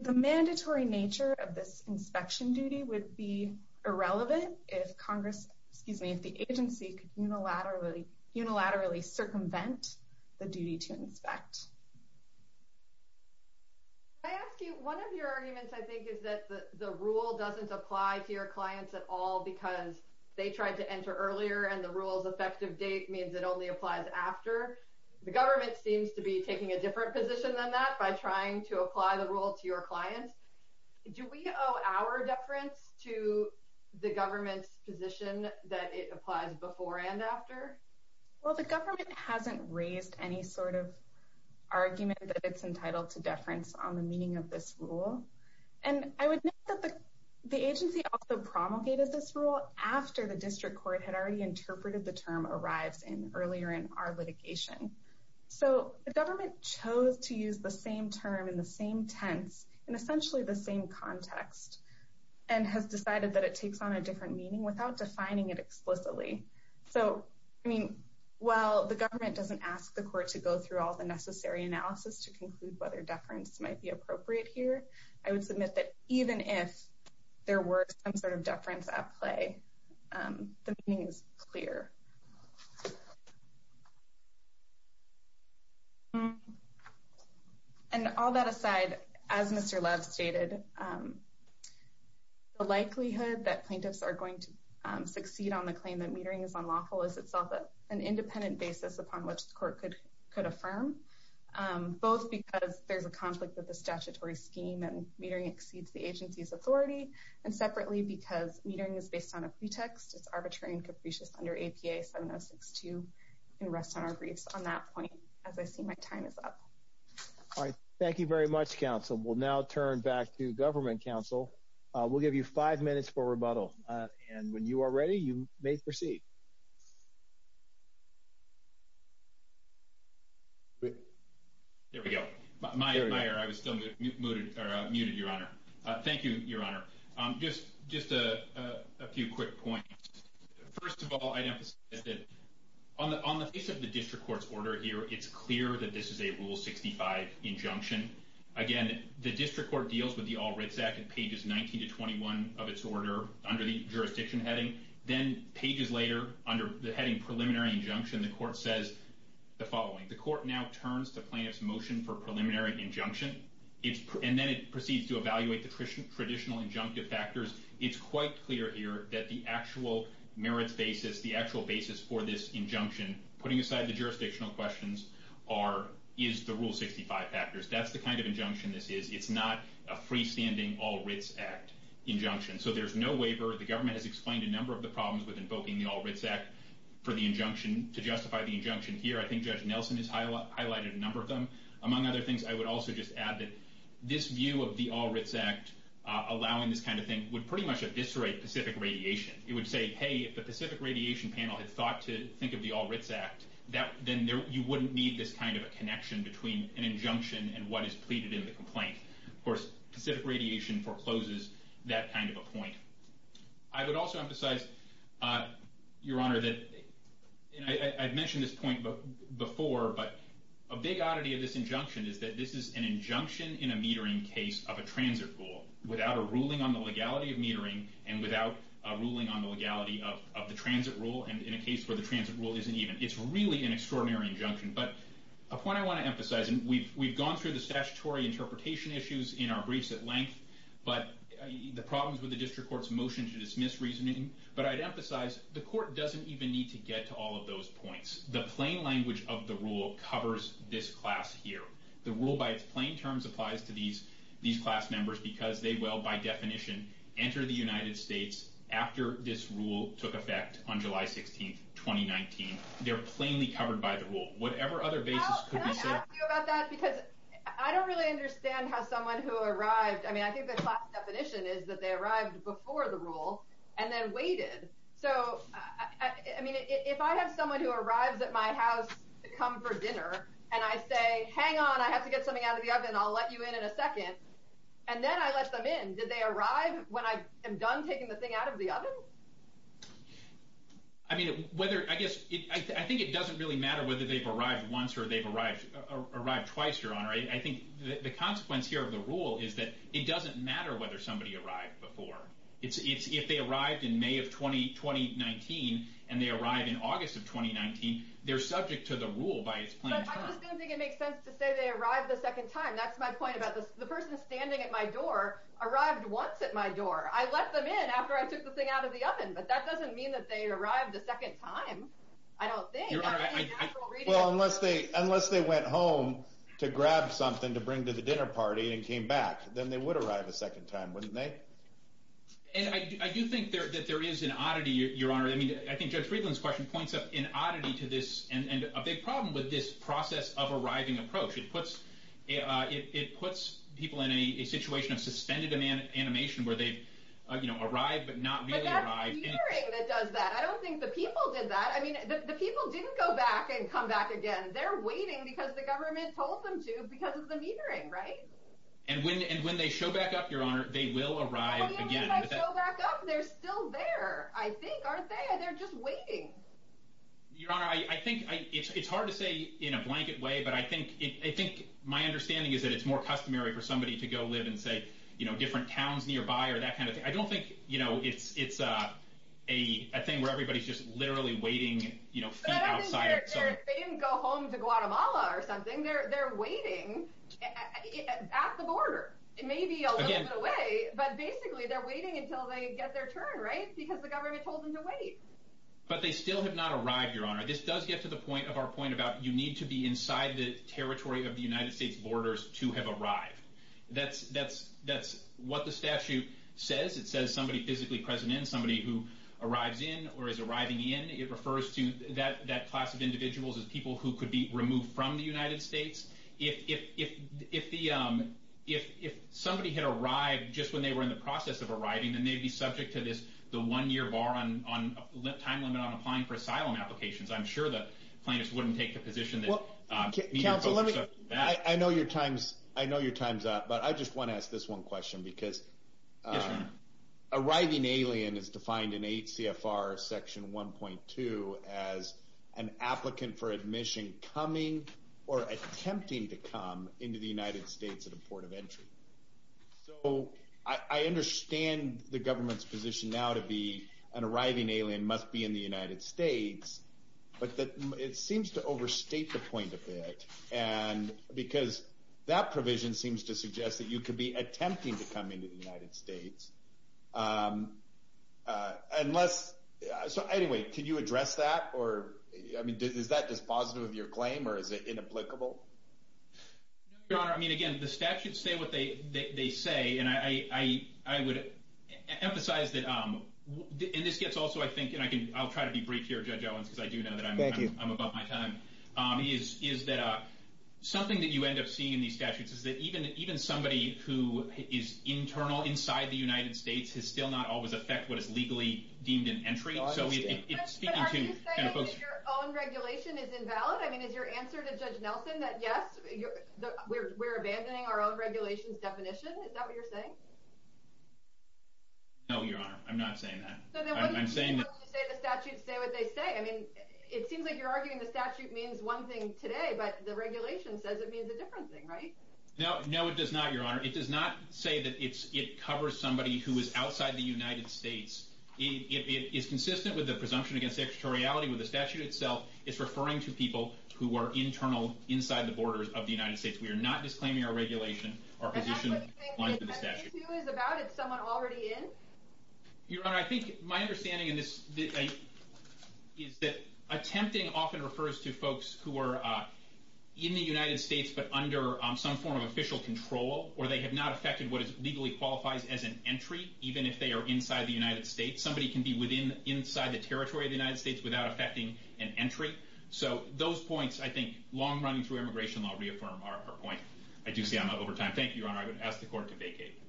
The mandatory nature of this inspection duty would be irrelevant if Congress, excuse me, if the agency could unilaterally circumvent the duty to inspect. Can I ask you, one of your arguments, I think, is that the rule doesn't apply to your clients at all because they tried to enter earlier and the rule's effective date means it only applies after. The government seems to be taking a different position than that by trying to apply the rule to your clients. Do we owe our deference to the government's position that it applies before and after? Well, the government hasn't raised any sort of argument that it's entitled to deference on the meaning of this rule. And I would note that the agency also promulgated this rule after the district court had already interpreted the term arrives in earlier in our litigation. So the government chose to use the same term in the same tense in essentially the same context and has decided that it takes on a different meaning without defining it explicitly. So, I mean, while the government doesn't ask the court to go through all the necessary analysis to conclude whether deference might be appropriate here, I would submit that even if there were some sort of deference at play, the meaning is clear. And all that aside, as Mr. Love stated, the likelihood that plaintiffs are going to succeed on the claim that metering is unlawful is itself an independent basis upon which the court could affirm, both because there's a conflict with the statutory scheme and metering exceeds the agency's authority, and separately because metering is based on a pretext, And so, I would say that there's a likelihood that the APA 7062 can rest on our griefs on that point as I see my time is up. All right. Thank you very much, counsel. We'll now turn back to government counsel. We'll give you five minutes for rebuttal. And when you are ready, you may proceed. There we go. My admire, I was still muted, your honor. Thank you, your honor. Just a few quick points. First of all, I'd emphasize that on the face of the district court's order here, it's clear that this is a Rule 65 injunction. Again, the district court deals with the All Writs Act at pages 19 to 21 of its order under the jurisdiction heading. Then pages later, under the heading preliminary injunction, the court says the following. The court now turns to plaintiff's motion for preliminary injunction, and then it proceeds to evaluate the traditional injunctive factors. It's quite clear here that the actual merits basis, the actual basis for this injunction, putting aside the jurisdictional questions, is the Rule 65 factors. That's the kind of injunction this is. It's not a freestanding All Writs Act injunction. So there's no waiver. The government has explained a number of the problems with invoking the All Writs Act to justify the injunction here. I think Judge Nelson has highlighted a number of them. Among other things, I would also just add that this view of the All Writs Act allowing this kind of thing would pretty much eviscerate Pacific Radiation. It would say, hey, if the Pacific Radiation panel had thought to think of the All Writs Act, then you wouldn't need this kind of a connection between an injunction and what is pleaded in the complaint. Of course, Pacific Radiation forecloses that kind of a point. I would also emphasize, Your Honor, that I've mentioned this point before, but a big oddity of this injunction is that this is an injunction in a metering case of a transit rule without a ruling on the legality of metering and without a ruling on the legality of the transit rule and in a case where the transit rule isn't even. It's really an extraordinary injunction. But a point I want to emphasize, and we've gone through the statutory interpretation issues in our briefs at length, but the problems with the district court's motion to dismiss reasoning. But I'd emphasize the court doesn't even need to get to all of those points. The plain language of the rule covers this class here. The rule by its plain terms applies to these class members because they will, by definition, enter the United States after this rule took effect on July 16th, 2019. They're plainly covered by the rule. Whatever other basis could be said- Well, can I ask you about that? Because I don't really understand how someone who arrived, I mean, I think the class definition is that they arrived before the rule and then waited. So, I mean, if I have someone and I say, hang on, I have to get something out of the oven, and I'll let you in in a second, and then I let them in, did they arrive when I am done taking the thing out of the oven? I mean, whether, I guess, I think it doesn't really matter whether they've arrived once or they've arrived twice, Your Honor. I think the consequence here of the rule is that it doesn't matter whether somebody arrived before. It's if they arrived in May of 2019 and they arrived in August of 2019, they're subject to the rule by its plain terms. But I just don't think it makes sense to say they arrived the second time. That's my point about this. The person standing at my door arrived once at my door. I let them in after I took the thing out of the oven, but that doesn't mean that they arrived a second time. I don't think. Your Honor, well, unless they went home to grab something to bring to the dinner party and came back, then they would arrive a second time, wouldn't they? And I do think that there is an oddity, Your Honor. I mean, I think Judge Friedland's question points up an oddity to this and a big problem with this process of arriving approach. It puts people in a situation of suspended animation where they've arrived but not really arrived. But that's the metering that does that. I don't think the people did that. I mean, the people didn't go back and come back again. They're waiting because the government told them to because of the metering, right? And when they show back up, Your Honor, they will arrive again. Well, even if they show back up, they're still there, I think, aren't they? They're just waiting. Your Honor, I think it's hard to say in a blanket way, but I think my understanding is that it's more customary for somebody to go live and say, you know, different towns nearby or that kind of thing. I don't think, you know, it's a thing where everybody's just literally waiting, you know, feet outside. But I don't think they didn't go home to Guatemala or something. They're waiting at the border. It may be a little bit away, but basically they're waiting until they get their turn, right? Because the government told them to wait. But they still have not arrived, Your Honor. This does get to the point of our point that territory of the United States borders, two have arrived. That's what the statute says. It says somebody physically present in, somebody who arrives in or is arriving in. It refers to that class of individuals as people who could be removed from the United States. If somebody had arrived just when they were in the process of arriving, then they'd be subject to this, the one-year bar on time limit on applying for asylum applications. I'm sure the plaintiffs wouldn't take the position that neither of those are bad. I know your time's up, but I just want to ask this one question, because arriving alien is defined in 8 CFR section 1.2 as an applicant for admission coming or attempting to come into the United States at a port of entry. So I understand the government's position now to be an arriving alien must be in the United States, but it seems to overstate the point a bit, because that provision seems to suggest that you could be attempting to come into the United States. So anyway, could you address that? Is that dispositive of your claim, or is it inapplicable? No, Your Honor. I mean, again, the statutes say what they say, and I would emphasize that, and this gets also, I think, I'll try to be brief here, Judge Owens, because I do know that I'm above my time, is that something that you end up seeing in these statutes is that even somebody who is internal, inside the United States, has still not always affect what is legally deemed an entry. So it's speaking to folks... But are you saying that your own regulation is invalid? I mean, is your answer to Judge Nelson that, yes, we're abandoning our own regulations definition? Is that what you're saying? No, Your Honor. I'm not saying that. So then what do you mean when you say the statutes say what they say? I mean, it seems like you're arguing the statute means one thing today, but the regulation says it means a different thing, right? No, it does not, Your Honor. It does not say that it covers somebody who is outside the United States. It is consistent with the presumption against extraterritoriality with the statute itself. It's referring to people who are internal, inside the borders of the United States. We are not disclaiming our regulation, our position, lines of the statute. And that's what you think it is about? It's someone already in? Your Honor, I think my understanding in this is that attempting often refers to folks who are in the United States, but under some form of official control, or they have not affected what legally qualifies as an entry, even if they are inside the United States. Somebody can be within, inside the territory of the United States without affecting an entry. So those points, I think, long running through immigration law, reaffirm our point. I do see I'm out over time. Thank you, Your Honor. I would ask the Court to vacate.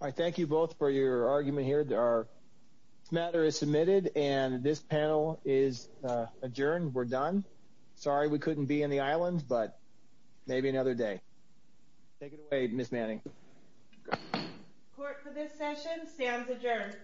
I thank you both for your argument here. This matter is submitted, and this panel is adjourned. We're done. Sorry we couldn't be in the islands, but maybe another day. Take it away, Ms. Manning. Court for this session stands adjourned.